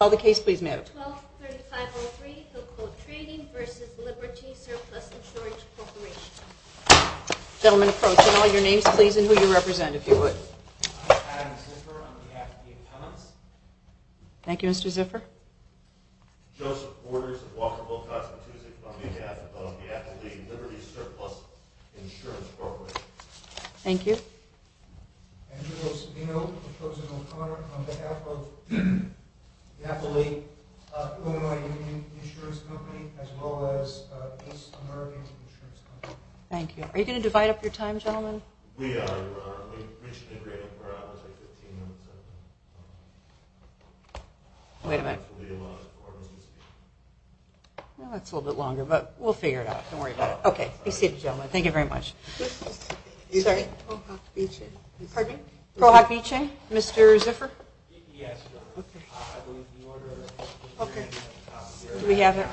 12-3503 Hilco Trading v. Liberty Surplus Insurance Corporation I am Adam Ziffer on behalf of the Appellants Joseph Orders of Walkerville, CT on behalf of the Appellate League, Liberty Surplus Insurance Corporation Andrew Rosadino on behalf of the Appellate League, Illinois Union Insurance Company and the Appellate League, as well as the North American Insurance Company Thank you. Are you going to divide up your time gentlemen? We are. We should be waiting for hours like 15 minutes. Wait a minute. We have a lot of quarterly meetings. That's a little bit longer, but we'll figure it out. Don't worry about it. Okay. Be seated gentlemen. Thank you very much. This is Prohok Bicheng. Pardon me? Prohok Bicheng. Mr. Ziffer? Yes. Okay. I would like to order a coffee. Okay. Do we have it?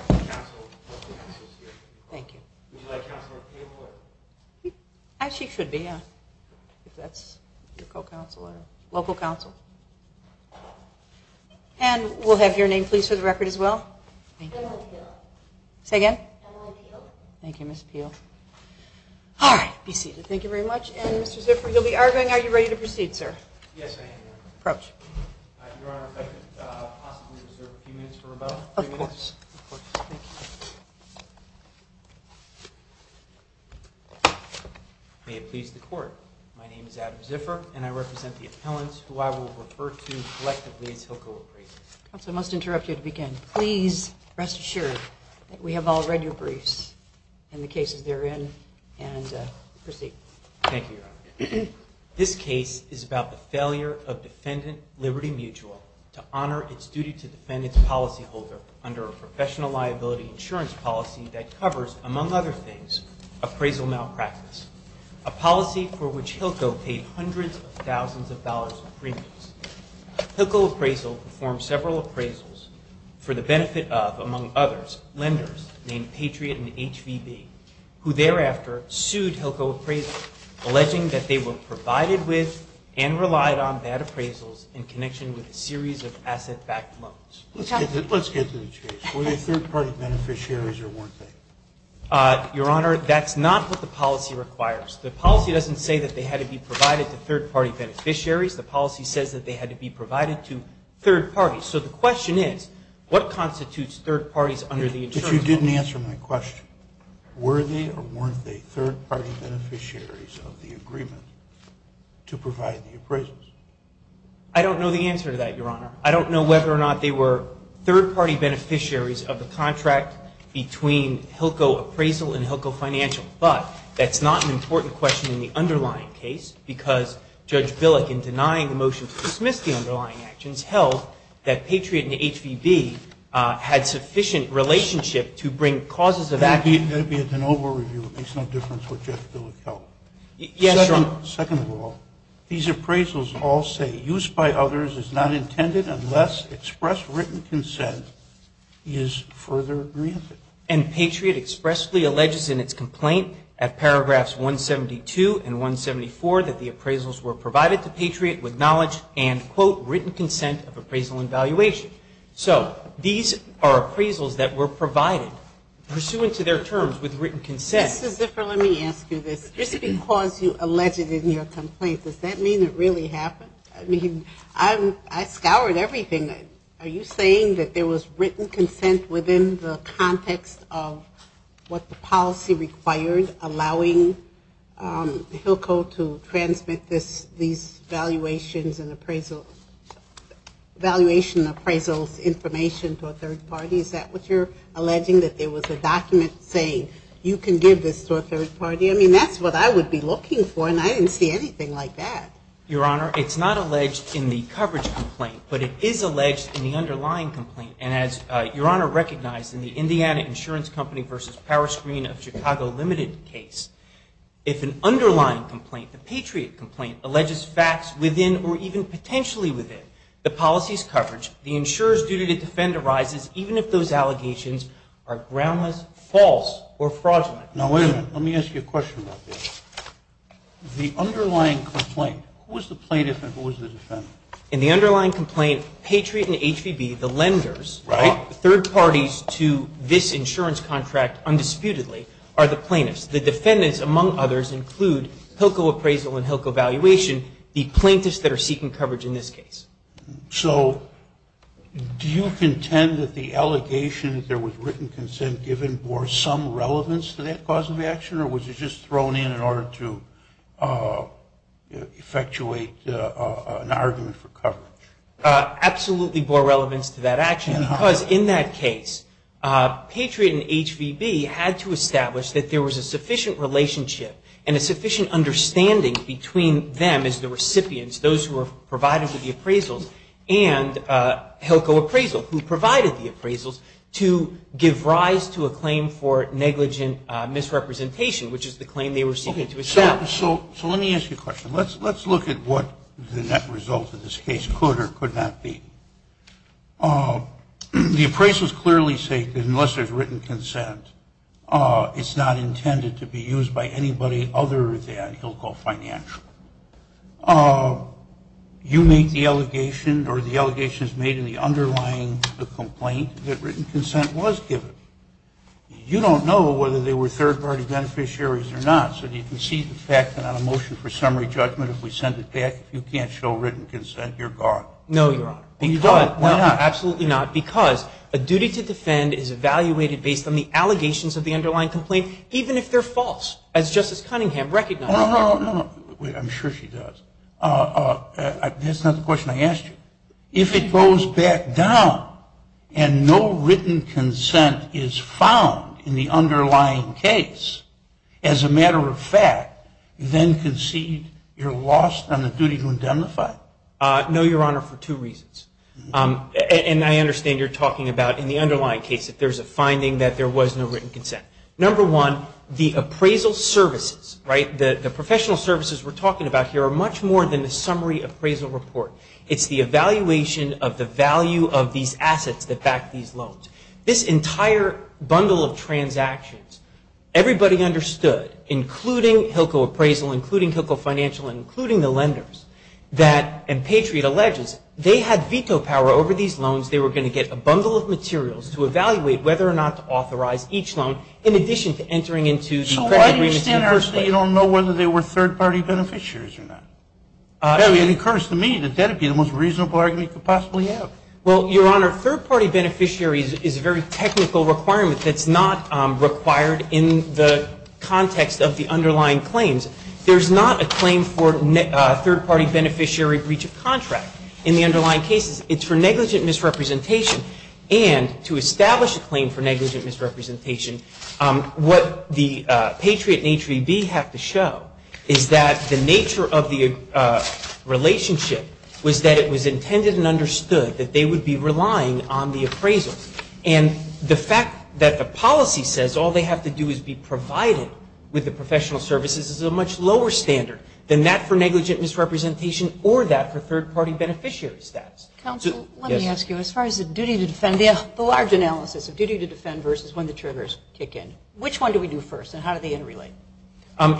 Thank you. Would you like Counselor Peele? I actually should be, yeah. If that's your co-counselor. Local counsel. And we'll have your name please for the record as well. Emily Peele. Say again? Emily Peele. Thank you, Ms. Peele. All right. Be seated. Thank you very much. And Mr. Ziffer, you'll be arguing. Are you ready to proceed, sir? Yes, I am. Approach. Your Honor, if I could possibly reserve a few minutes for rebuttal? Of course. Of course. Thank you. May it please the Court, my name is Adam Ziffer and I represent the appellants who I will refer to collectively as HILCO appraisers. Counsel, I must interrupt you to begin. Please rest assured that we have all read your briefs and the cases they're in and proceed. Thank you, Your Honor. This case is about the failure of defendant Liberty Mutual to honor its duty to defend its policyholder under a professional liability insurance policy that covers, among other things, appraisal malpractice, a policy for which HILCO paid hundreds of thousands of dollars in premiums. HILCO appraisal performed several appraisals for the benefit of, among others, lenders named Patriot and HVB, who thereafter sued HILCO appraisal, alleging that they were provided with and relied on bad appraisals in connection with a series of asset-backed loans. Let's get to the case. Were they third-party beneficiaries or weren't they? Your Honor, that's not what the policy requires. The policy doesn't say that they had to be provided to third-party beneficiaries. The policy says that they had to be provided to third parties. So the question is, what constitutes third parties under the insurance policy? If you didn't answer my question, were they or weren't they third-party beneficiaries of the agreement to provide the appraisals? I don't know the answer to that, Your Honor. I don't know whether or not they were third-party beneficiaries of the contract between HILCO appraisal and HILCO financial, but that's not an important question in the underlying case because Judge Billick, in denying the motion to dismiss the underlying actions, held that Patriot and HVB had sufficient relationship to bring causes of action. That would be a de novo review. It makes no difference what Judge Billick held. Yes, Your Honor. Second of all, these appraisals all say, use by others is not intended unless express written consent is further granted. And Patriot expressly alleges in its complaint at paragraphs 172 and 174 that the appraisals were provided to Patriot with knowledge and, quote, written consent of appraisal and valuation. So these are appraisals that were provided pursuant to their terms with written consent. Mr. Ziffer, let me ask you this. Just because you allege it in your complaint, does that mean it really happened? I mean, I scoured everything. Are you saying that there was written consent within the context of what the policy required, allowing HILCO to transmit these valuations and appraisals information to a third party? Is that what you're alleging, that there was a document saying you can give this to a third party? I mean, that's what I would be looking for, and I didn't see anything like that. Your Honor, it's not alleged in the coverage complaint, but it is alleged in the underlying complaint. And as Your Honor recognized in the Indiana Insurance Company v. Power Screen of Chicago Limited case, if an underlying complaint, the Patriot complaint, alleges facts within or even potentially within the policy's coverage, the insurer's duty to defend arises even if those allegations are groundless, false, or fraudulent. Now, wait a minute. Let me ask you a question about this. The underlying complaint, who was the plaintiff and who was the defendant? In the underlying complaint, Patriot and HVB, the lenders, third parties to this insurance contract undisputedly, are the plaintiffs. The defendants, among others, include HILCO appraisal and HILCO valuation, the plaintiffs that are seeking coverage in this case. So do you contend that the allegation that there was written consent given bore some relevance to that cause of action, or was it just thrown in in order to effectuate an argument for coverage? Absolutely bore relevance to that action because in that case, Patriot and HVB had to establish that there was a sufficient relationship and a sufficient understanding between them as the recipients, those who were provided with the appraisals, and HILCO appraisal, who provided the appraisals to give rise to a claim for negligent misrepresentation, which is the claim they were seeking to establish. So let me ask you a question. Let's look at what the net result of this case could or could not be. The appraisals clearly state that unless there's written consent, it's not intended to be used by anybody other than HILCO financial. You make the allegation or the allegations made in the underlying complaint that written consent was given. You don't know whether they were third-party beneficiaries or not. So you can see the fact that on a motion for summary judgment, if we send it back, if you can't show written consent, you're gone. No, Your Honor. And you don't. Why not? Absolutely not, because a duty to defend is evaluated based on the allegations of the underlying complaint, even if they're false, as Justice Cunningham recognized. No, no, no. I'm sure she does. That's not the question I asked you. If it goes back down and no written consent is found in the underlying case, as a matter of fact, you then concede you're lost on the duty to indemnify? No, Your Honor, for two reasons. And I understand you're talking about in the underlying case that there's a finding that there was no written consent. Number one, the appraisal services, right, the professional services we're talking about here, are much more than a summary appraisal report. It's the evaluation of the value of these assets that back these loans. This entire bundle of transactions, everybody understood, including HILCO appraisal, including HILCO financial, and including the lenders, that, and Patriot alleges, they had veto power over these loans. They were going to get a bundle of materials to evaluate whether or not to authorize each loan, in addition to entering into the agreement in the first place. So why do you say you don't know whether they were third-party beneficiaries or not? It occurs to me that that would be the most reasonable argument you could possibly have. Well, Your Honor, third-party beneficiaries is a very technical requirement that's not required in the context of the underlying claims. There's not a claim for third-party beneficiary breach of contract in the underlying cases. It's for negligent misrepresentation. And to establish a claim for negligent misrepresentation, what the Patriot and HVB have to show is that the nature of the relationship was that it was intended and understood that they would be relying on the appraisal. And the fact that the policy says all they have to do is be provided with the professional services is a much lower standard than that for negligent misrepresentation or that for third-party beneficiary status. Counsel, let me ask you, as far as the duty to defend, the large analysis of duty to defend versus when the triggers kick in, which one do we do first and how do they interrelate?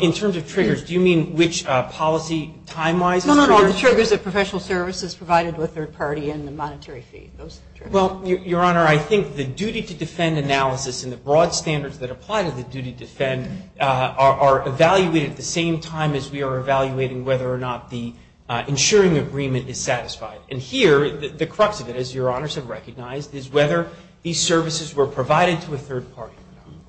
In terms of triggers, do you mean which policy time-wise? No, no, no, the triggers of professional services provided to a third party and the monetary fee. Well, Your Honor, I think the duty to defend analysis and the broad standards that apply to the duty to defend are evaluated at the same time as we are evaluating whether or not the insuring agreement is satisfied. And here, the crux of it, as Your Honors have recognized, is whether these services were provided to a third party or not.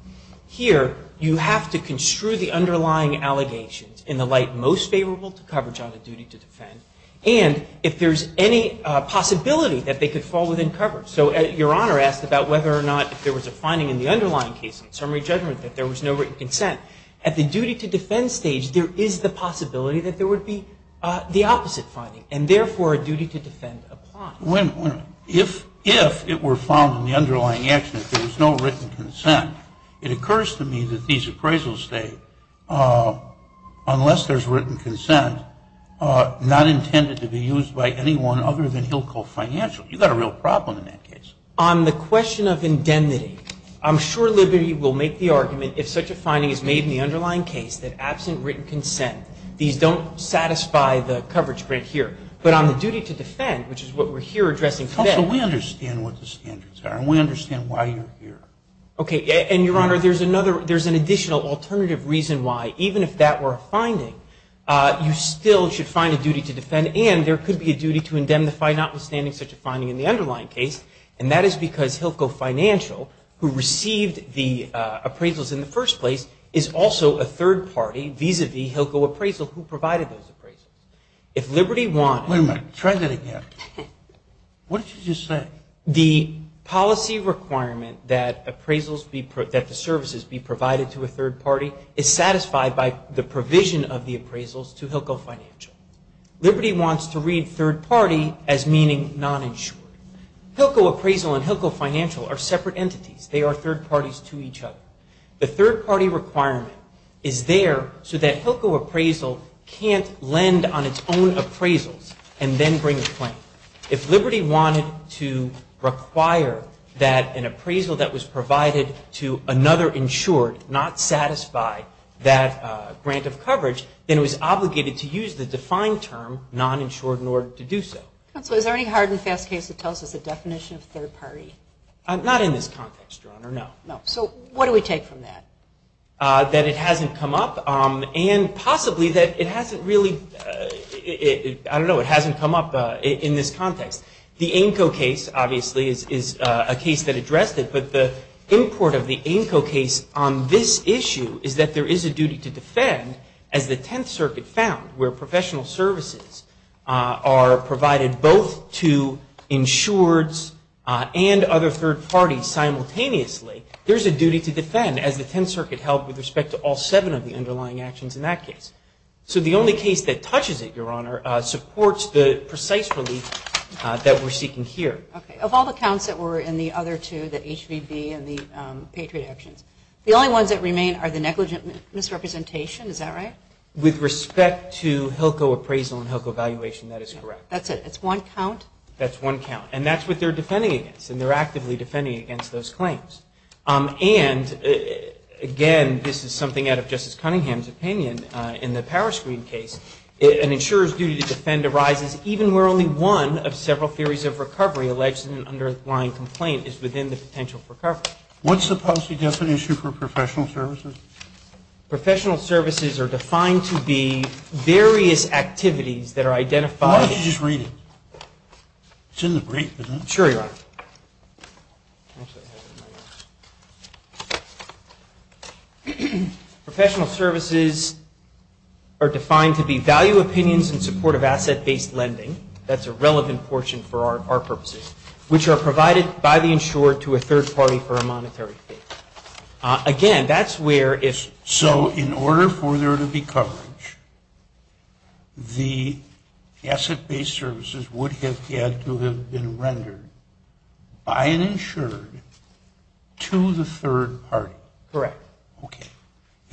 Here, you have to construe the underlying allegations in the light most favorable to coverage on a duty to defend and if there's any possibility that they could fall within coverage. So Your Honor asked about whether or not if there was a finding in the underlying case, summary judgment, that there was no written consent. At the duty to defend stage, there is the possibility that there would be the opposite finding and therefore a duty to defend applies. If it were found in the underlying action that there was no written consent, it occurs to me that these appraisals state, unless there's written consent, not intended to be used by anyone other than Hillcote Financial. You've got a real problem in that case. On the question of indemnity, I'm sure Liberty will make the argument if such a finding is made in the underlying case that absent written consent, these don't satisfy the coverage right here. But on the duty to defend, which is what we're here addressing today. Counsel, we understand what the standards are and we understand why you're here. Okay. And Your Honor, there's another, there's an additional alternative reason why, even if that were a finding, you still should find a duty to defend and there could be a duty to indemnify notwithstanding such a finding in the underlying case and that is because Hillcote Financial, who received the appraisals in the first place, is also a third party vis-a-vis Hillcote Appraisal who provided those appraisals. If Liberty wanted... Wait a minute. Try that again. What did you just say? The policy requirement that appraisals be, that the services be provided to a third party is satisfied by the provision of the appraisals to Hillcote Financial. Liberty wants to read third party as meaning non-insured. Hillcote Appraisal and Hillcote Financial are separate entities. They are third parties to each other. The third party requirement is there so that Hillcote Appraisal can't lend on its own appraisals and then bring a claim. If Liberty wanted to require that an appraisal that was provided to another insured not satisfy that grant of coverage, then it was obligated to use the defined term non-insured in order to do so. Counsel, is there any hard and fast case that tells us the definition of third party? Not in this context, Your Honor, no. So what do we take from that? That it hasn't come up and possibly that it hasn't really... I don't know. It hasn't come up in this context. The ANCO case, obviously, is a case that addressed it, but the import of the ANCO case on this issue is that there is a duty to defend, as the Tenth Circuit found where professional services are provided both to insureds and other third parties simultaneously, there's a duty to defend as the Tenth Circuit held with respect to all seven of the underlying actions in that case. So the only case that touches it, Your Honor, supports the precise relief that we're seeking here. Okay. Of all the counts that were in the other two, the HVB and the Patriot actions, the only ones that remain are the negligent misrepresentation. Is that right? With respect to HILCO appraisal and HILCO valuation, that is correct. That's it. It's one count? That's one count. And that's what they're defending against, and they're actively defending against those claims. And, again, this is something out of Justice Cunningham's opinion in the Power Screen case, an insurer's duty to defend arises even where only one of several theories of recovery alleged in an underlying complaint is within the potential for recovery. What's the policy definition for professional services? Professional services are defined to be various activities that are identified. Why don't you just read it? It's in the brief, isn't it? Sure, Your Honor. Professional services are defined to be value opinions in support of asset-based lending. That's a relevant portion for our purposes, which are provided by the insurer to a third party for a monetary fee. Again, that's where if... So in order for there to be coverage, the asset-based services would have had to have been rendered by an insured to the third party. Correct. Okay.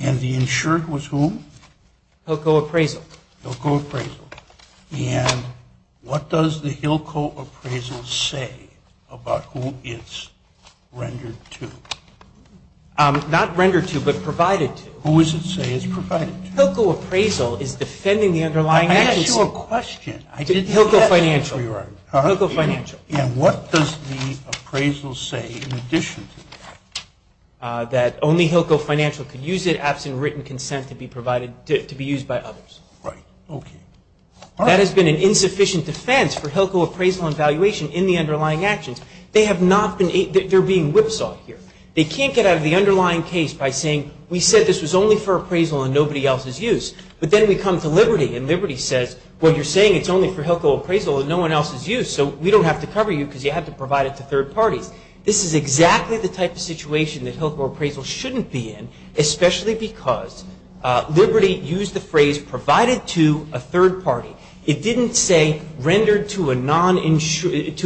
And the insured was whom? HILCO appraisal. HILCO appraisal. And what does the HILCO appraisal say about who it's rendered to? Not rendered to, but provided to. Who is it saying it's provided to? HILCO appraisal is defending the underlying assets. I asked you a question. I didn't get that. HILCO financial. HILCO financial. And what does the appraisal say in addition to that? That only HILCO financial could use it absent written consent to be used by others. Right. Okay. That has been an insufficient defense for HILCO appraisal and valuation in the underlying actions. They have not been... They're being whipsawed here. They can't get out of the underlying case by saying, we said this was only for appraisal and nobody else's use. But then we come to Liberty, and Liberty says, well, you're saying it's only for HILCO appraisal and no one else's use, so we don't have to cover you because you have to provide it to third parties. This is exactly the type of situation that HILCO appraisal shouldn't be in, especially because Liberty used the phrase provided to a third party. It didn't say rendered to a non-insured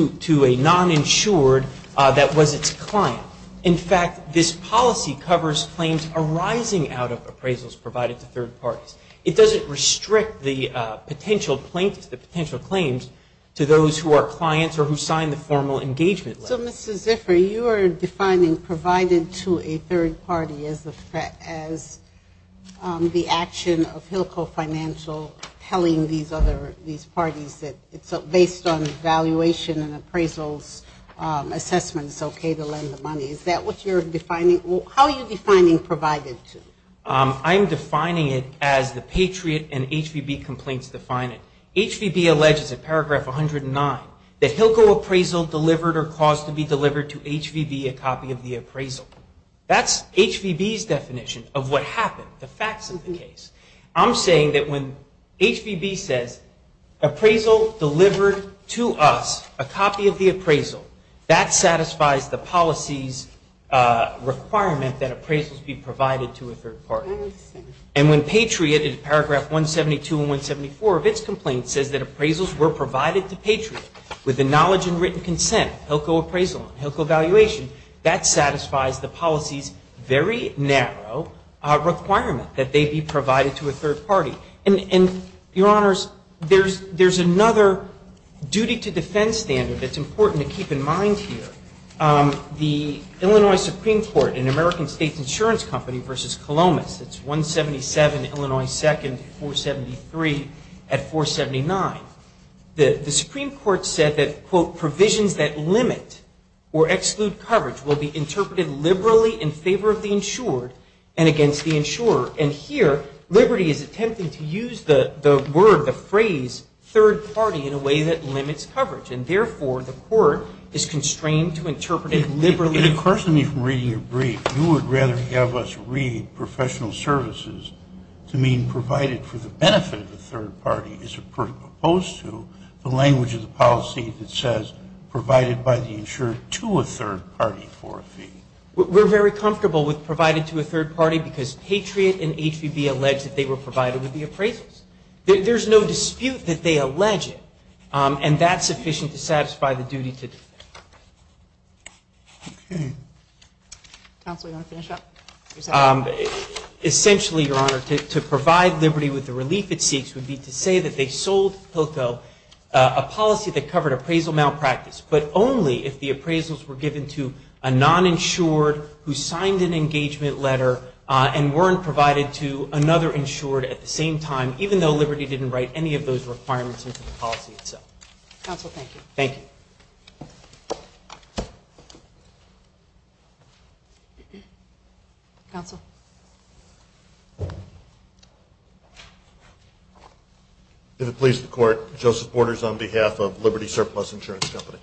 that was its client. In fact, this policy covers claims arising out of appraisals provided to third parties. It doesn't restrict the potential claims to those who are clients or who signed the formal engagement letter. So, Mr. Ziffer, you are defining provided to a third party as the action of HILCO financial telling these other, these parties that it's based on valuation and appraisals assessments, okay, to lend the money. Is that what you're defining? How are you defining provided to? I'm defining it as the Patriot and HVB complaints define it. HVB alleges in paragraph 109 that HILCO appraisal delivered or caused to be delivered to HVB a copy of the appraisal. That's HVB's definition of what happened, the facts of the case. I'm saying that when HVB says appraisal delivered to us, a copy of the appraisal, that satisfies the policy's requirement that appraisals be provided to a third party. And when Patriot in paragraph 172 and 174 of its complaint says that appraisals were provided to Patriot with the knowledge and written consent, HILCO appraisal and HILCO valuation, that satisfies the policy's very narrow requirement that they be provided to a third party. And, Your Honors, there's another duty to defense standard that's important to keep in mind here. The Illinois Supreme Court, an American state insurance company versus Columbus, it's 177 Illinois 2nd 473 at 479. The Supreme Court said that, quote, provisions that limit or exclude coverage will be interpreted liberally in favor of the insured and against the insurer. And here, liberty is attempting to use the word, the phrase, third party in a way that limits coverage. And, therefore, the court is constrained to interpret it liberally. It occurs to me from reading your brief, you would rather have us read professional services to mean provided for the benefit of the third party as opposed to the language of the policy that says provided by the insured to a third party for a fee. We're very comfortable with provided to a third party because Patriot and HVB allege that they were provided with the appraisals. There's no dispute that they allege it. And that's sufficient to satisfy the duty to defense. Counsel, do you want to finish up? Essentially, Your Honor, to provide liberty with the relief it seeks would be to say that they sold POCO, a policy that covered appraisal malpractice, but only if the appraisals were given to a non-insured who signed an engagement letter and weren't provided to another insured at the same time, even though Liberty didn't write any of those requirements into the policy itself. Counsel, thank you. Thank you. Counsel? If it pleases the Court, Joseph Borders on behalf of Liberty Surplus Insurance Company.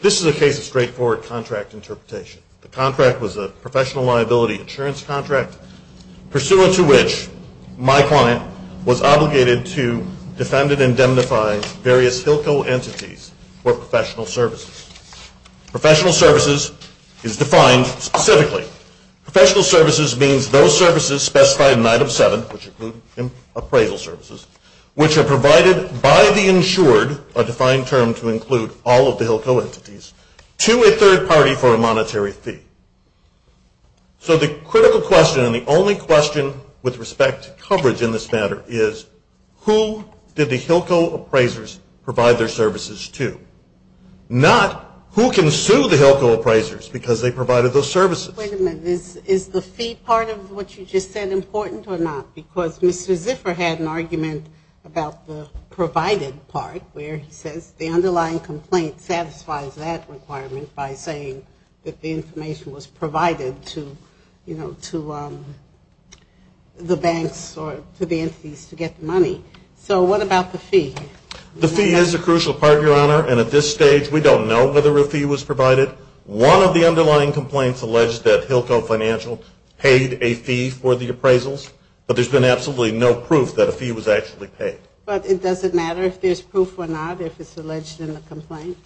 This is a case of straightforward contract interpretation. The contract was a professional liability insurance contract pursuant to which my client was obligated to defend and indemnify various HILCO entities for professional services. Professional services is defined specifically. Professional services means those services specified in Item 7, which include appraisal services, which are provided by the insured, a defined term to include all of the HILCO entities, to a third party for a monetary fee. So the critical question and the only question with respect to coverage in this matter is, who did the HILCO appraisers provide their services to? Not who can sue the HILCO appraisers because they provided those services. Wait a minute. Is the fee part of what you just said important or not? Because Mr. Ziffer had an argument about the provided part where he says the underlying complaint satisfies that requirement by saying that the information was provided to the banks or to the entities to get the money. So what about the fee? The fee is a crucial part, Your Honor, and at this stage we don't know whether a fee was provided. One of the underlying complaints alleged that HILCO Financial paid a fee for the appraisals, but there's been absolutely no proof that a fee was actually paid. But it doesn't matter if there's proof or not if it's alleged in the complaint?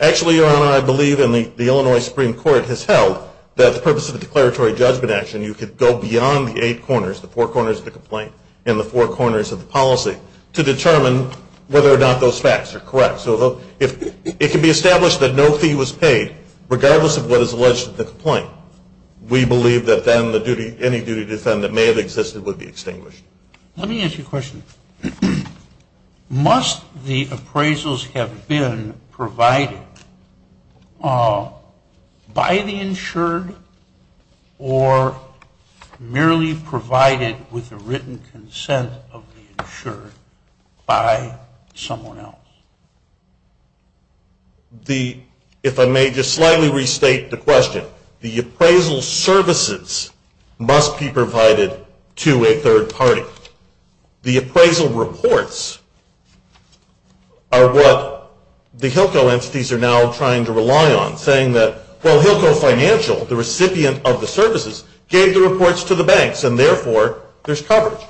Actually, Your Honor, I believe in the Illinois Supreme Court has held that the purpose of the declaratory judgment action, you could go beyond the eight corners, the four corners of the complaint, and the four corners of the policy to determine whether or not those facts are correct. So it can be established that no fee was paid regardless of what is alleged in the complaint. We believe that then any duty to defend that may have existed would be extinguished. Let me ask you a question. Must the appraisals have been provided by the insured or merely provided with the written consent of the insured by someone else? If I may just slightly restate the question, the appraisal services must be provided to a third party. However, the appraisal reports are what the HILCO entities are now trying to rely on, saying that, well, HILCO Financial, the recipient of the services, gave the reports to the banks, and therefore there's coverage.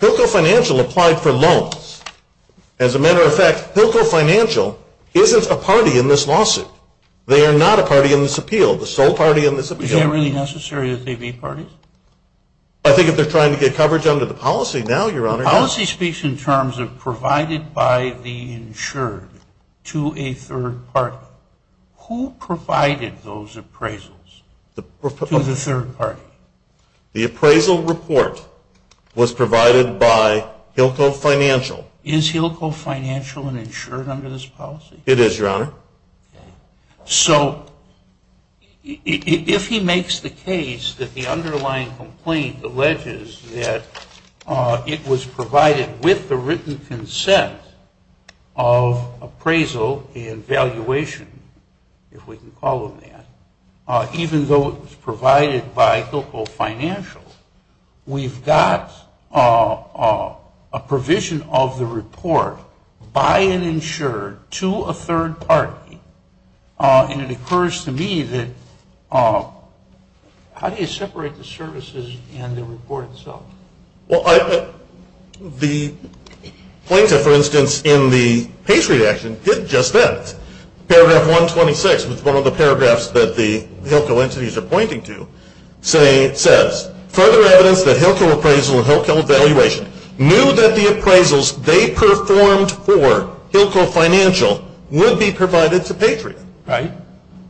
HILCO Financial applied for loans. As a matter of fact, HILCO Financial isn't a party in this lawsuit. They are not a party in this appeal, the sole party in this appeal. Is that really necessary that they be parties? I think if they're trying to get coverage under the policy now, Your Honor. The policy speaks in terms of provided by the insured to a third party. Who provided those appraisals to the third party? The appraisal report was provided by HILCO Financial. Is HILCO Financial an insured under this policy? It is, Your Honor. So if he makes the case that the underlying complaint alleges that it was provided with the written consent of appraisal and valuation, if we can call them that, even though it was provided by HILCO Financial, we've got a provision of the report by an insured to a third party, and it occurs to me that how do you separate the services and the report itself? Well, the plaintiff, for instance, in the page reaction did just that. Paragraph 126, which is one of the paragraphs that the HILCO entities are pointing to, says, further evidence that HILCO appraisal and HILCO valuation knew that the appraisals they performed for HILCO Financial would be provided to Patriot. Right.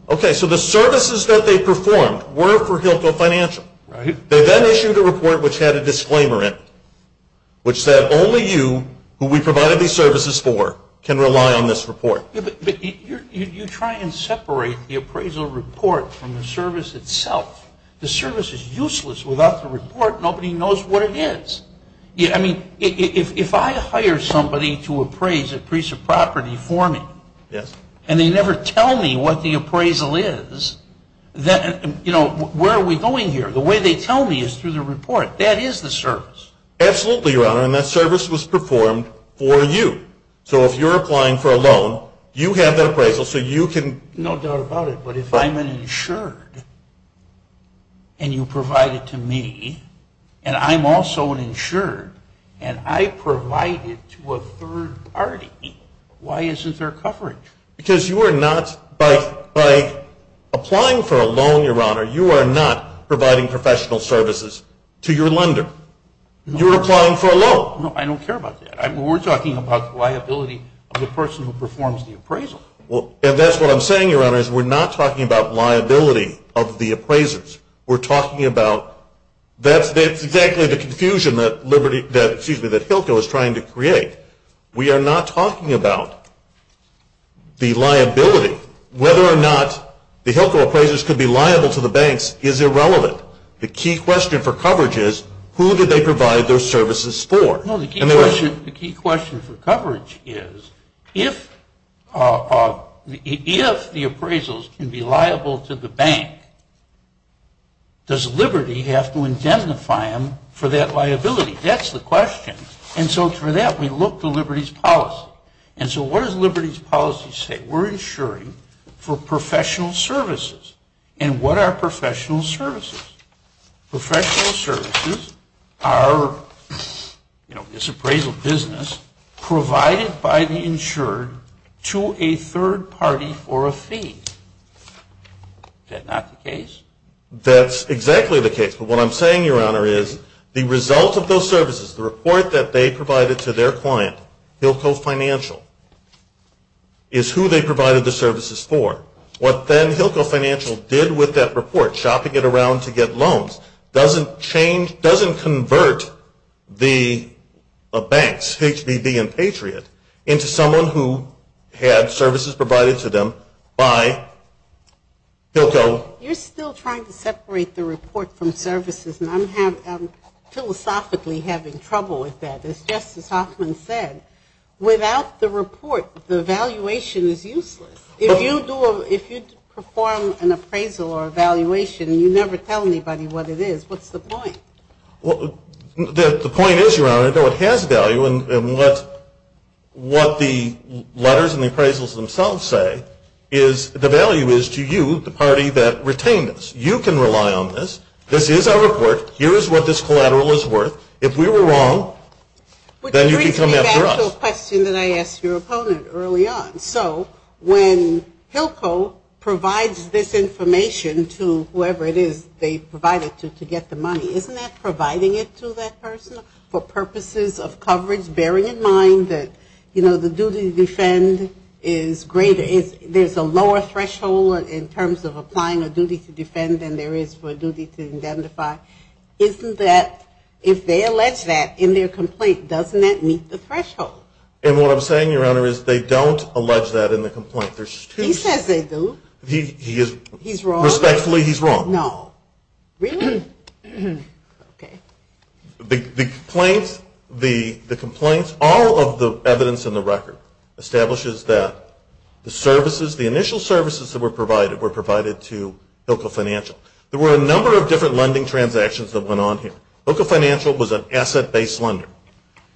Okay, so the services that they performed were for HILCO Financial. They then issued a report which had a disclaimer in it, which said only you, who we provided these services for, can rely on this report. But you try and separate the appraisal report from the service itself. The service is useless without the report. Nobody knows what it is. I mean, if I hire somebody to appraise a piece of property for me, and they never tell me what the appraisal is, where are we going here? The way they tell me is through the report. That is the service. Absolutely, Your Honor, and that service was performed for you. So if you're applying for a loan, you have that appraisal so you can. No doubt about it, but if I'm an insured and you provide it to me, and I'm also an insured and I provide it to a third party, why isn't there coverage? Because you are not, by applying for a loan, Your Honor, you are not providing professional services to your lender. You're applying for a loan. I don't care about that. We're talking about liability of the person who performs the appraisal. And that's what I'm saying, Your Honor, is we're not talking about liability of the appraisers. We're talking about that's exactly the confusion that Hilco is trying to create. We are not talking about the liability. Whether or not the Hilco appraisers could be liable to the banks is irrelevant. The key question for coverage is who did they provide their services for? No, the key question for coverage is if the appraisals can be liable to the bank, does Liberty have to indemnify them for that liability? That's the question. And so for that we look to Liberty's policy. And so what does Liberty's policy say? We're insuring for professional services. And what are professional services? Professional services are, you know, this appraisal business provided by the insured to a third party for a fee. Is that not the case? That's exactly the case. But what I'm saying, Your Honor, is the result of those services, the report that they provided to their client, Hilco Financial, is who they provided the services for. What then Hilco Financial did with that report, shopping it around to get loans, doesn't convert the banks, HBB and Patriot, into someone who had services provided to them by Hilco. You're still trying to separate the report from services, and I'm philosophically having trouble with that. As Justice Hoffman said, without the report, the valuation is useless. If you perform an appraisal or a valuation and you never tell anybody what it is, what's the point? The point is, Your Honor, though it has value, and what the letters and the appraisals themselves say is the value is to you, the party that retained us. You can rely on this. This is our report. Here is what this collateral is worth. If we were wrong, then you could come after us. So when Hilco provides this information to whoever it is they provided to, to get the money, isn't that providing it to that person for purposes of coverage, bearing in mind that, you know, the duty to defend is greater, there's a lower threshold in terms of applying a duty to defend than there is for a duty to identify. Isn't that, if they allege that in their complaint, doesn't that meet the threshold? No. And what I'm saying, Your Honor, is they don't allege that in the complaint. He says they do. Respectfully, he's wrong. No. Really? Okay. The complaints, all of the evidence in the record establishes that the services, the initial services that were provided were provided to Hilco Financial. There were a number of different lending transactions that went on here. Hilco Financial was an asset-based lender.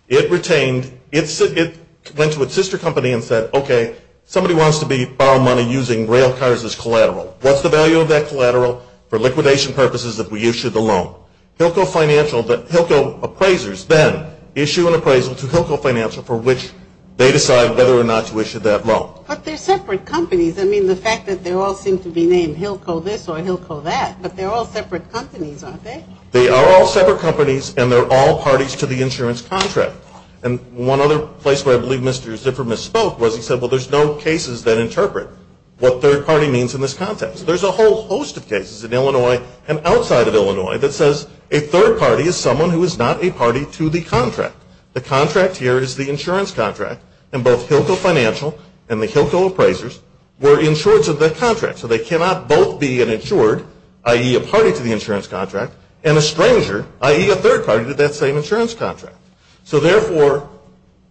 It retained, it went to its sister company and said, okay, somebody wants to borrow money using rail cars as collateral. What's the value of that collateral for liquidation purposes if we issue the loan? Hilco Financial, the Hilco appraisers then issue an appraisal to Hilco Financial for which they decide whether or not to issue that loan. But they're separate companies. I mean, the fact that they all seem to be named Hilco this or Hilco that, but they're all separate companies, aren't they? They are all separate companies, and they're all parties to the insurance contract. And one other place where I believe Mr. Zipper misspoke was he said, well, there's no cases that interpret what third party means in this context. There's a whole host of cases in Illinois and outside of Illinois that says a third party is someone who is not a party to the contract. The contract here is the insurance contract, and both Hilco Financial and the Hilco appraisers were insured to the contract. So they cannot both be an insured, i.e., a party to the insurance contract, and a stranger, i.e., a third party to that same insurance contract. So therefore,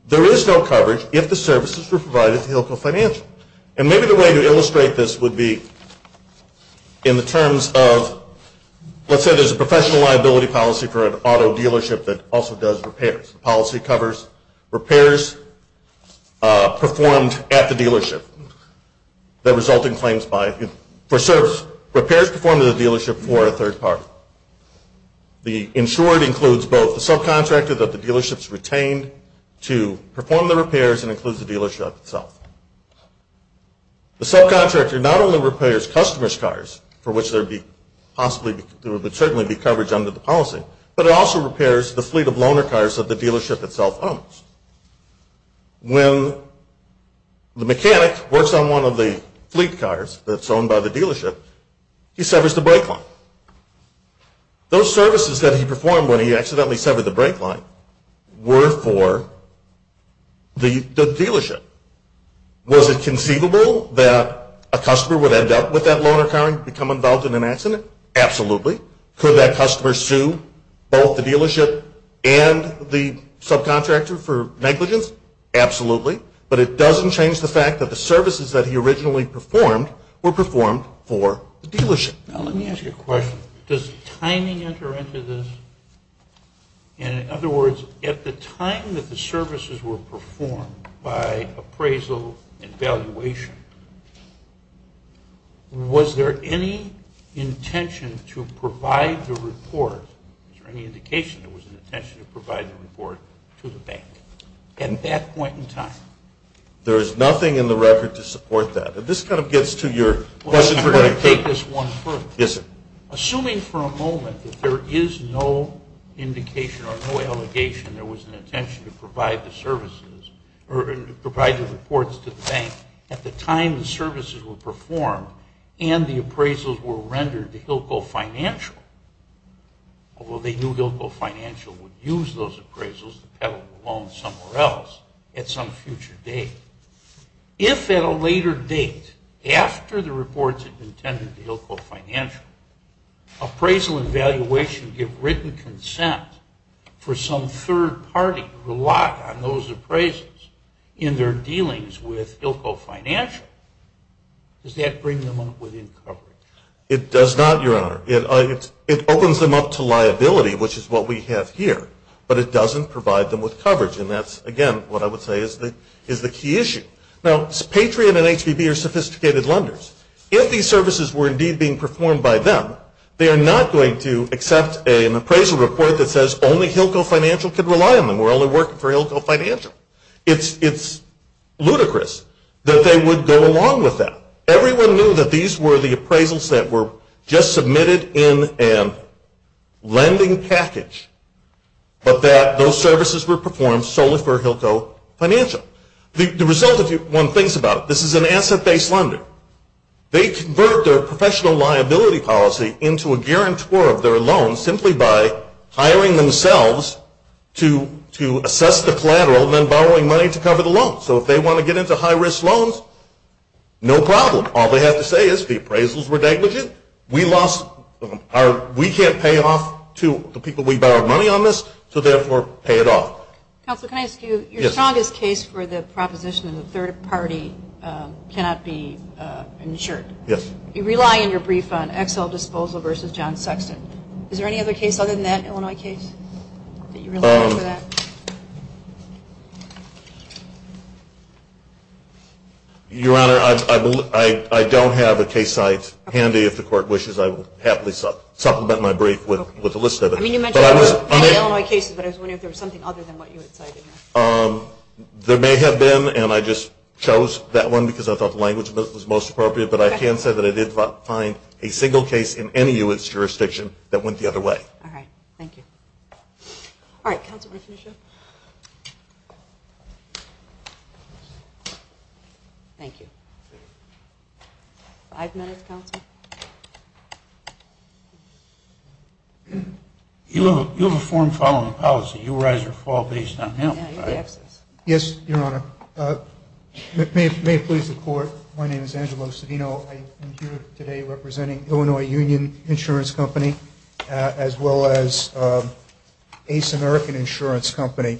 there is no coverage if the services were provided to Hilco Financial. And maybe the way to illustrate this would be in the terms of let's say there's a professional liability policy for an auto dealership that also does repairs. The policy covers repairs performed at the dealership that result in claims for service, repairs performed at the dealership for a third party. The insured includes both the subcontractor that the dealership's retained to perform the repairs and includes the dealership itself. The subcontractor not only repairs customer's cars, for which there would certainly be coverage under the policy, but it also repairs the fleet of loaner cars that the dealership itself owns. When the mechanic works on one of the fleet cars that's owned by the dealership, he severs the brake line. Those services that he performed when he accidentally severed the brake line were for the dealership. Was it conceivable that a customer would end up with that loaner car and become involved in an accident? Absolutely. Could that customer sue both the dealership and the subcontractor for negligence? Absolutely. But it doesn't change the fact that the services that he originally performed were performed for the dealership. Now, let me ask you a question. Does timing enter into this? In other words, at the time that the services were performed by appraisal and valuation, was there any intention to provide the report, was there any indication there was an intention to provide the report to the bank at that point in time? There is nothing in the record to support that. This kind of gets to your question. I want to take this one further. Yes, sir. Assuming for a moment that there is no indication or no allegation there was an intention to provide the services or provide the reports to the bank at the time the services were performed and the appraisals were rendered to Hillco Financial, although they knew Hillco Financial would use those appraisals to peddle the loan somewhere else at some future date. If at a later date, after the reports had been tendered to Hillco Financial, appraisal and valuation give written consent for some third party to rely on those appraisals in their dealings with Hillco Financial, does that bring them up within coverage? It does not, Your Honor. It opens them up to liability, which is what we have here. But it doesn't provide them with coverage. And that's, again, what I would say is the key issue. Now, Patriot and HPB are sophisticated lenders. If these services were indeed being performed by them, they are not going to accept an appraisal report that says only Hillco Financial can rely on them. We're only working for Hillco Financial. It's ludicrous that they would go along with that. Everyone knew that these were the appraisals that were just submitted in a lending package, but that those services were performed solely for Hillco Financial. The result, if one thinks about it, this is an asset-based lender. They convert their professional liability policy into a guarantor of their loan simply by hiring themselves to assess the collateral and then borrowing money to cover the loan. So if they want to get into high-risk loans, no problem. All they have to say is the appraisals were negligent. We can't pay off to the people we borrowed money on this, so therefore pay it off. Counsel, can I ask you, your strongest case for the proposition of the third party cannot be insured. Yes. You rely on your brief on XL Disposal versus John Sexton. Is there any other case other than that Illinois case that you rely on for that? Your Honor, I don't have a case site handy. If the Court wishes, I will happily supplement my brief with a list of it. I mean, you mentioned Illinois cases, but I was wondering if there was something other than what you had cited. There may have been, and I just chose that one because I thought the language was most appropriate, but I can say that I did not find a single case in any U.S. jurisdiction that went the other way. All right. Thank you. All right. Counsel, do you want to finish up? Thank you. Five minutes, Counsel. You have a form following policy. You rise or fall based on him. Yes, Your Honor. May it please the Court, my name is Angelo Savino. I am here today representing Illinois Union Insurance Company as well as Ace American Insurance Company.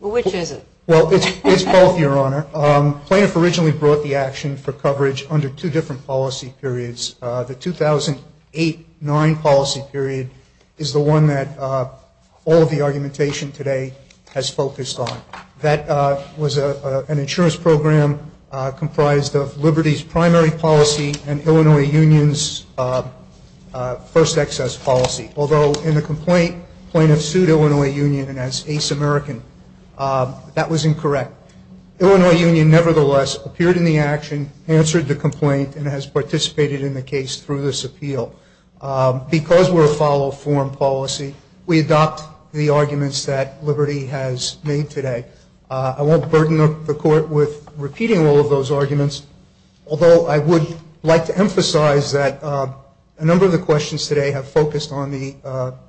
Which is it? Well, it's both, Your Honor. Plaintiff originally brought the action for coverage under two different policy periods. The 2008-09 policy period is the one that all of the argumentation today has focused on. That was an insurance program comprised of Liberty's primary policy and Illinois Union's first excess policy. Although in the complaint, plaintiff sued Illinois Union as Ace American. That was incorrect. Illinois Union, nevertheless, appeared in the action, answered the complaint, and has participated in the case through this appeal. Because we're a follow-form policy, we adopt the arguments that Liberty has made today. I won't burden the Court with repeating all of those arguments, although I would like to emphasize that a number of the questions today have focused on the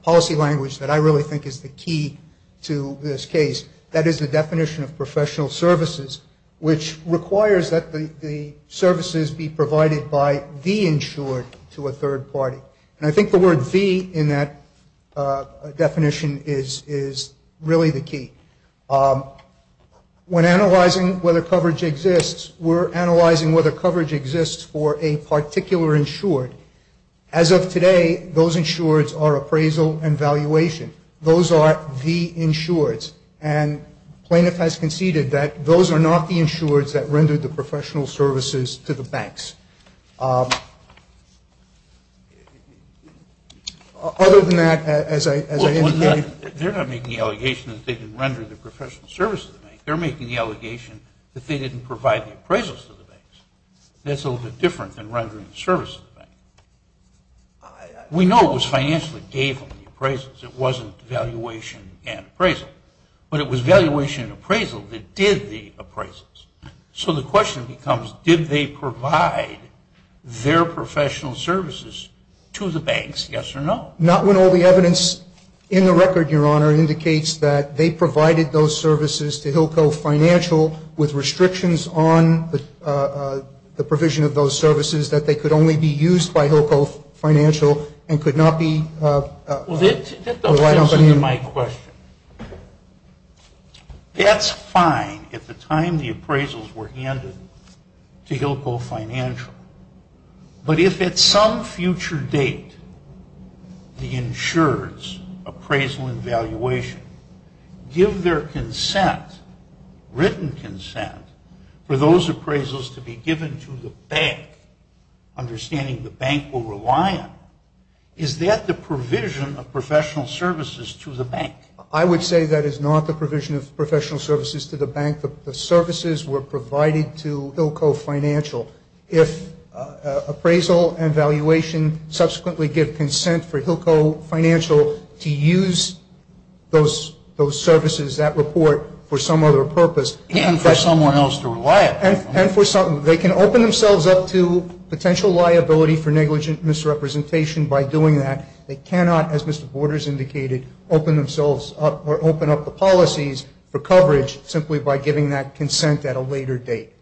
policy language that I really think is the key to this case. That is the definition of professional services, which requires that the services be provided by the insured to a third party. And I think the word the in that definition is really the key. When analyzing whether coverage exists, we're analyzing whether coverage exists for a particular insured. As of today, those insureds are appraisal and valuation. Those are the insureds. And plaintiff has conceded that those are not the insureds that rendered the professional services to the banks. Other than that, as I indicated ñ Well, they're not making the allegation that they didn't render the professional services to the banks. They're making the allegation that they didn't provide the appraisals to the banks. That's a little bit different than rendering the services to the banks. We know it was financially gave them the appraisals. It wasn't valuation and appraisal. But it was valuation and appraisal that did the appraisals. So the question becomes, did they provide their professional services to the banks, yes or no? Not when all the evidence in the record, Your Honor, indicates that they provided those services to Hillco Financial with restrictions on the provision of those services that they could only be used by Hillco Financial and could not be Well, that doesn't answer my question. That's fine at the time the appraisals were handed to Hillco Financial. But if at some future date the insuredsí appraisal and valuation give their consent, written consent, for those appraisals to be given to the bank, understanding the bank will rely on, is that the provision of professional services to the bank? I would say that is not the provision of professional services to the bank. The services were provided to Hillco Financial. If appraisal and valuation subsequently give consent for Hillco Financial to use those services, that report, for some other purpose. And for someone else to rely upon. They can open themselves up to potential liability for negligent misrepresentation by doing that. They cannot, as Mr. Borders indicated, open themselves up or open up the policies for coverage simply by giving that consent at a later date.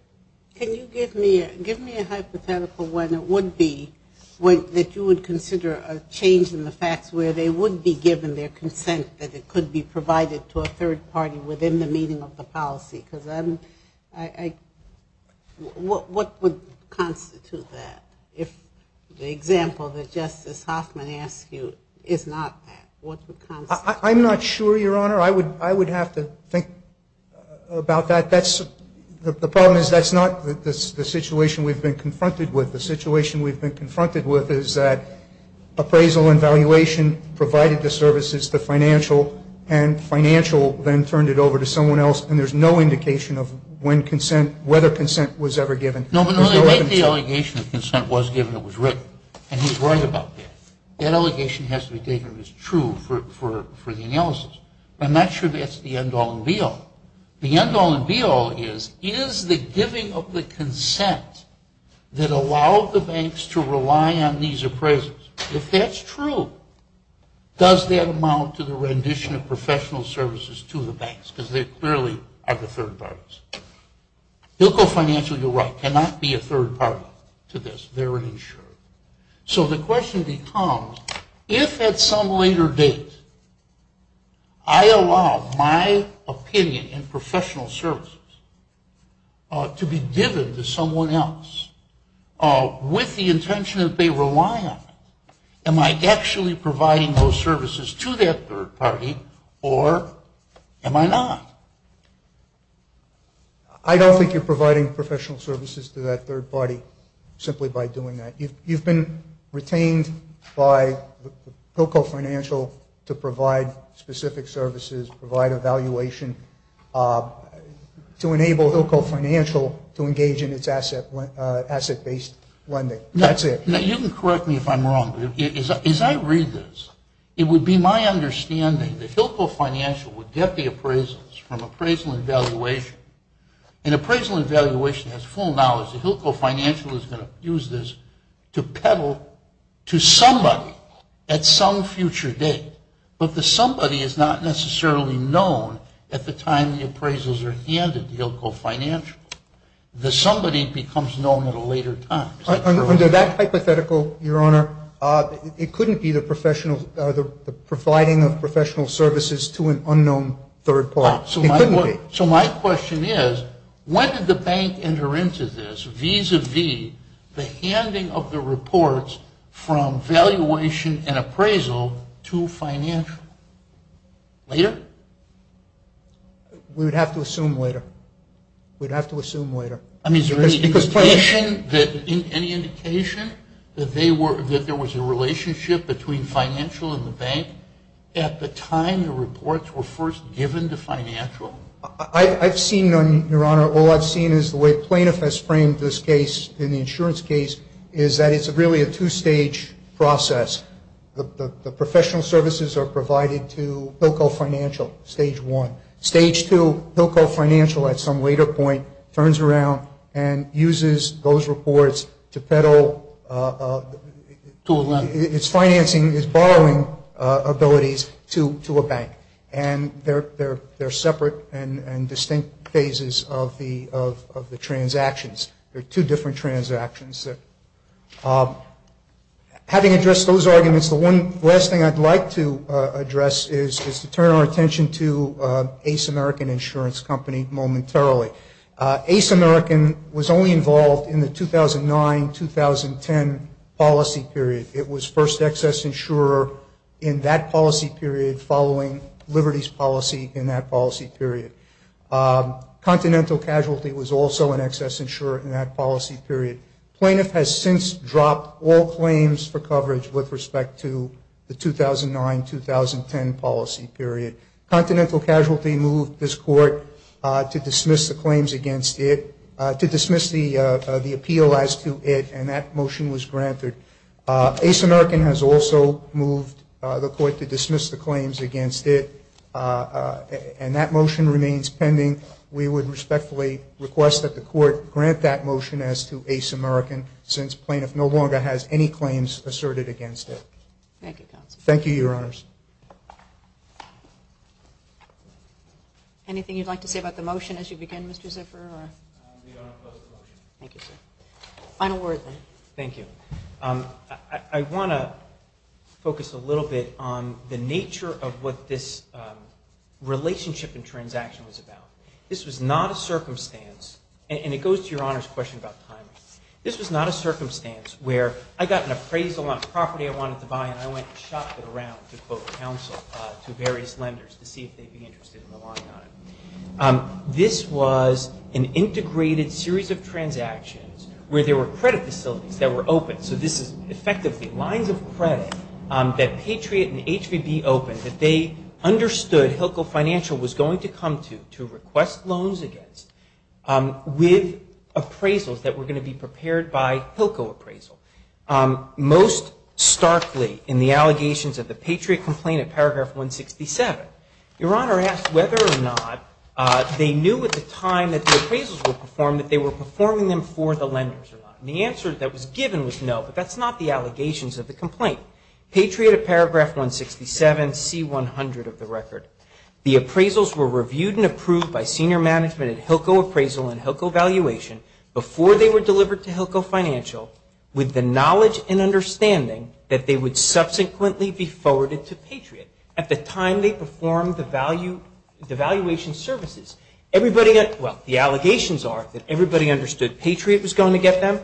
Can you give me a hypothetical when it would be, that you would consider a change in the facts where they would be given their consent that it could be provided to a third party within the meaning of the policy? Because I, what would constitute that? If the example that Justice Hoffman asked you is not that, what would constitute that? I'm not sure, Your Honor. I would have to think about that. The problem is that's not the situation we've been confronted with. The situation we've been confronted with is that appraisal and valuation provided the services to financial and financial then turned it over to someone else, and there's no indication of when consent, whether consent was ever given. No, but the only way the allegation of consent was given, it was written. And he's right about that. That allegation has to be taken as true for the analysis. I'm not sure that's the end all and be all. The end all and be all is, is the giving of the consent that allowed the banks to rely on these appraisals, if that's true, does that amount to the rendition of professional services to the banks? Because they clearly are the third parties. You'll go financial, you're right, cannot be a third party to this. They're insured. So the question becomes, if at some later date I allow my opinion in professional services to be given to someone else, with the intention that they rely on, am I actually providing those services to that third party, or am I not? I don't think you're providing professional services to that third party simply by doing that. You've been retained by Hillco Financial to provide specific services, provide a valuation to enable Hillco Financial to engage in its asset-based lending. That's it. Now, you can correct me if I'm wrong, but as I read this, it would be my understanding that Hillco Financial would get the appraisals from appraisal and valuation, and appraisal and valuation has full knowledge that Hillco Financial is going to use this to peddle to somebody at some future date. But the somebody is not necessarily known at the time the appraisals are handed to Hillco Financial. The somebody becomes known at a later time. Under that hypothetical, Your Honor, it couldn't be the providing of professional services to an unknown third party. It couldn't be. So my question is, when did the bank enter into this vis-a-vis the handing of the reports from valuation and appraisal to financial? Later? We would have to assume later. We'd have to assume later. I mean, is there any indication that there was a relationship between financial and the bank at the time the reports were first given to financial? I've seen none, Your Honor. All I've seen is the way plaintiff has framed this case in the insurance case is that it's really a two-stage process. The professional services are provided to Hillco Financial, stage one. Stage two, Hillco Financial at some later point turns around and uses those reports to peddle. To what level? It's financing, it's borrowing abilities to a bank. And they're separate and distinct phases of the transactions. They're two different transactions. Having addressed those arguments, the one last thing I'd like to address is to turn our attention to Ace American Insurance Company momentarily. Ace American was only involved in the 2009-2010 policy period. It was first excess insurer in that policy period following Liberty's policy in that policy period. Continental Casualty was also an excess insurer in that policy period. Plaintiff has since dropped all claims for coverage with respect to the 2009-2010 policy period. Continental Casualty moved this court to dismiss the claims against it, to dismiss the appeal as to it, and that motion was granted. Ace American has also moved the court to dismiss the claims against it, and that motion remains pending. We would respectfully request that the court grant that motion as to Ace American since plaintiff no longer has any claims asserted against it. Thank you, counsel. Any questions? Anything you'd like to say about the motion as you begin, Mr. Ziffer? We don't oppose the motion. Thank you, sir. Final words, then. Thank you. I want to focus a little bit on the nature of what this relationship and transaction was about. This was not a circumstance, and it goes to Your Honor's question about timing. This was not a circumstance where I got an appraisal on a property I wanted to buy, and I went and shopped it around to, quote, counsel to various lenders to see if they'd be interested in relying on it. This was an integrated series of transactions where there were credit facilities that were open. So this is effectively lines of credit that Patriot and HVB opened that they understood Hilco Financial was going to come to, to request loans against with appraisals that were going to be prepared by Hilco appraisal. Most starkly in the allegations of the Patriot complaint at paragraph 167, Your Honor asked whether or not they knew at the time that the appraisals were performed that they were performing them for the lenders. And the answer that was given was no, but that's not the allegations of the complaint. Patriot at paragraph 167, C-100 of the record. The appraisals were reviewed and approved by senior management at Hilco appraisal and Hilco valuation before they were delivered to Hilco Financial with the knowledge and understanding that they would subsequently be forwarded to Patriot at the time they performed the valuation services. Everybody, well, the allegations are that everybody understood Patriot was going to get them.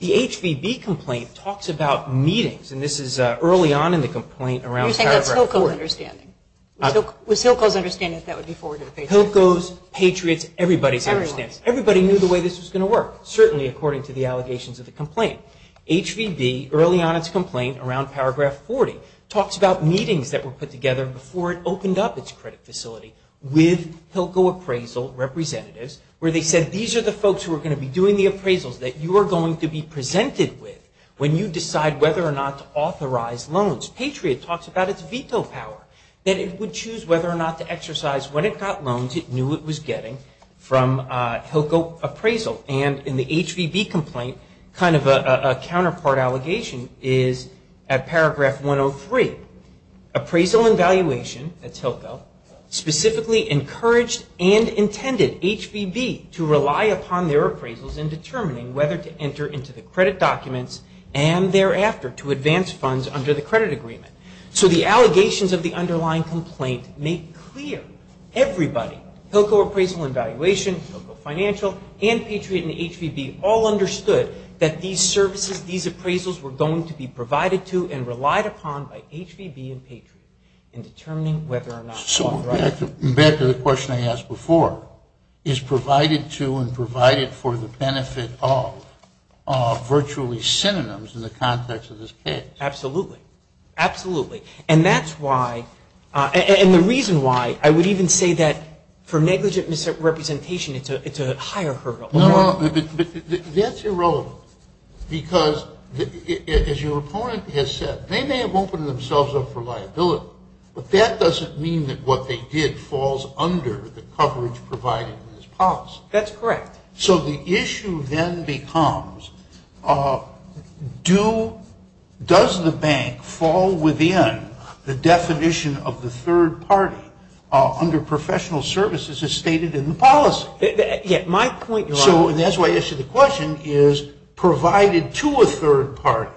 The HVB complaint talks about meetings, and this is early on in the complaint around paragraph 4. Was Hilco's understanding that that would be forwarded to Patriot? Hilco's, Patriot's, everybody's understanding. Everybody knew the way this was going to work, certainly according to the allegations of the complaint. HVB early on its complaint around paragraph 40 talks about meetings that were put together before it opened up its credit facility with Hilco appraisal representatives where they said these are the folks who are going to be doing the appraisals that you are going to be presented with when you decide whether or not to authorize loans. Patriot talks about its veto power, that it would choose whether or not to exercise what it got loans it knew it was getting from Hilco appraisal. And in the HVB complaint, kind of a counterpart allegation is at paragraph 103. Appraisal and valuation, that's Hilco, specifically encouraged and intended HVB to rely upon their appraisals in determining whether to advance funds under the credit agreement. So the allegations of the underlying complaint make clear everybody, Hilco appraisal and valuation, Hilco financial, and Patriot and HVB all understood that these services, these appraisals were going to be provided to and relied upon by HVB and Patriot in determining whether or not to authorize. Back to the question I asked before, is provided to and provided for the benefit of virtually synonyms in the context of this case. Absolutely. Absolutely. And that's why, and the reason why I would even say that for negligent misrepresentation, it's a higher hurdle. No, no. That's irrelevant because as your opponent has said, they may have opened themselves up for liability, but that doesn't mean that what they did falls under the coverage provided in this policy. That's correct. So the issue then becomes, does the bank fall within the definition of the third party under professional services as stated in the policy? So, and that's why I asked you the question, is provided to a third party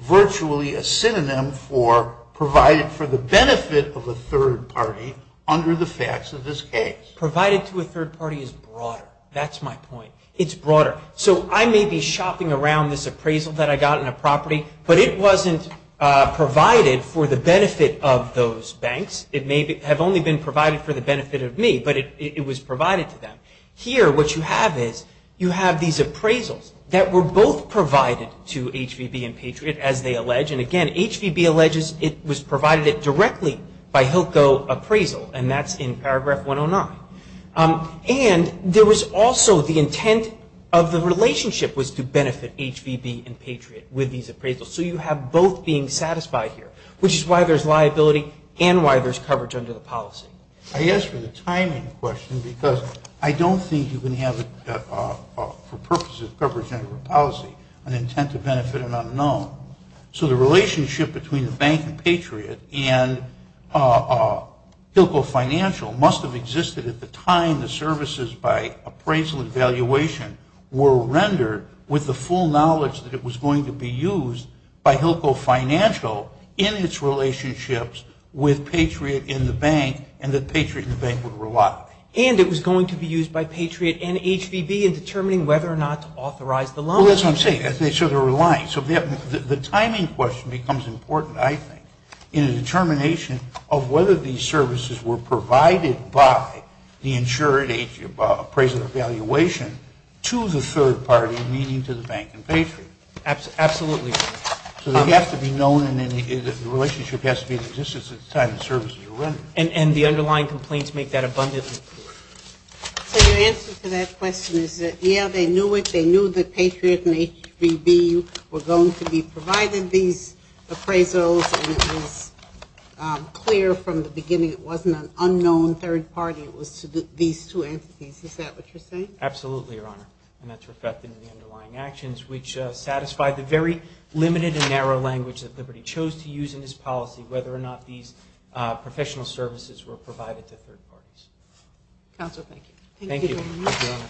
virtually a synonym for provided for the benefit of a third party under the facts of this case? Provided to a third party is broader. That's my point. It's broader. So I may be shopping around this appraisal that I got in a property, but it wasn't provided for the benefit of those banks. It may have only been provided for the benefit of me, but it was provided to them. Here, what you have is you have these appraisals that were both provided to HVB and Patriot as they allege. And again, HVB alleges it was provided directly by HILCO appraisal, and that's in paragraph 109. And there was also the intent of the relationship was to benefit HVB and Patriot with these appraisals. So you have both being satisfied here, which is why there's liability and why there's coverage under the policy. I asked for the timing question because I don't think you can have it for purposes of coverage under the policy, an intent to benefit an unknown. So the relationship between the bank and Patriot and HILCO Financial must have existed at the time the services by appraisal and valuation were rendered with the full knowledge that it was going to be used by HILCO Financial in its relationships with and that Patriot and the bank would rely on it. And it was going to be used by Patriot and HVB in determining whether or not to authorize the loan. Well, that's what I'm saying. So they're relying. So the timing question becomes important, I think, in a determination of whether these services were provided by the insured appraisal or valuation to the third party, meaning to the bank and Patriot. Absolutely. So they have to be known and the relationship has to be in existence at the time the services were rendered. And the underlying complaints make that abundantly clear. So your answer to that question is that, yeah, they knew it. They knew that Patriot and HVB were going to be provided these appraisals and it was clear from the beginning it wasn't an unknown third party. It was these two entities. Is that what you're saying? Absolutely, Your Honor. And that's reflected in the underlying actions, which satisfied the very limited and narrow language that Liberty chose to use in his policy, whether or not these professional services were provided to third parties. Counsel, thank you. Thank you. Thank you, Your Honor.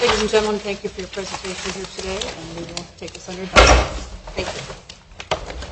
Ladies and gentlemen, thank you for your presentation here today. And we will take this under discussion. Thank you.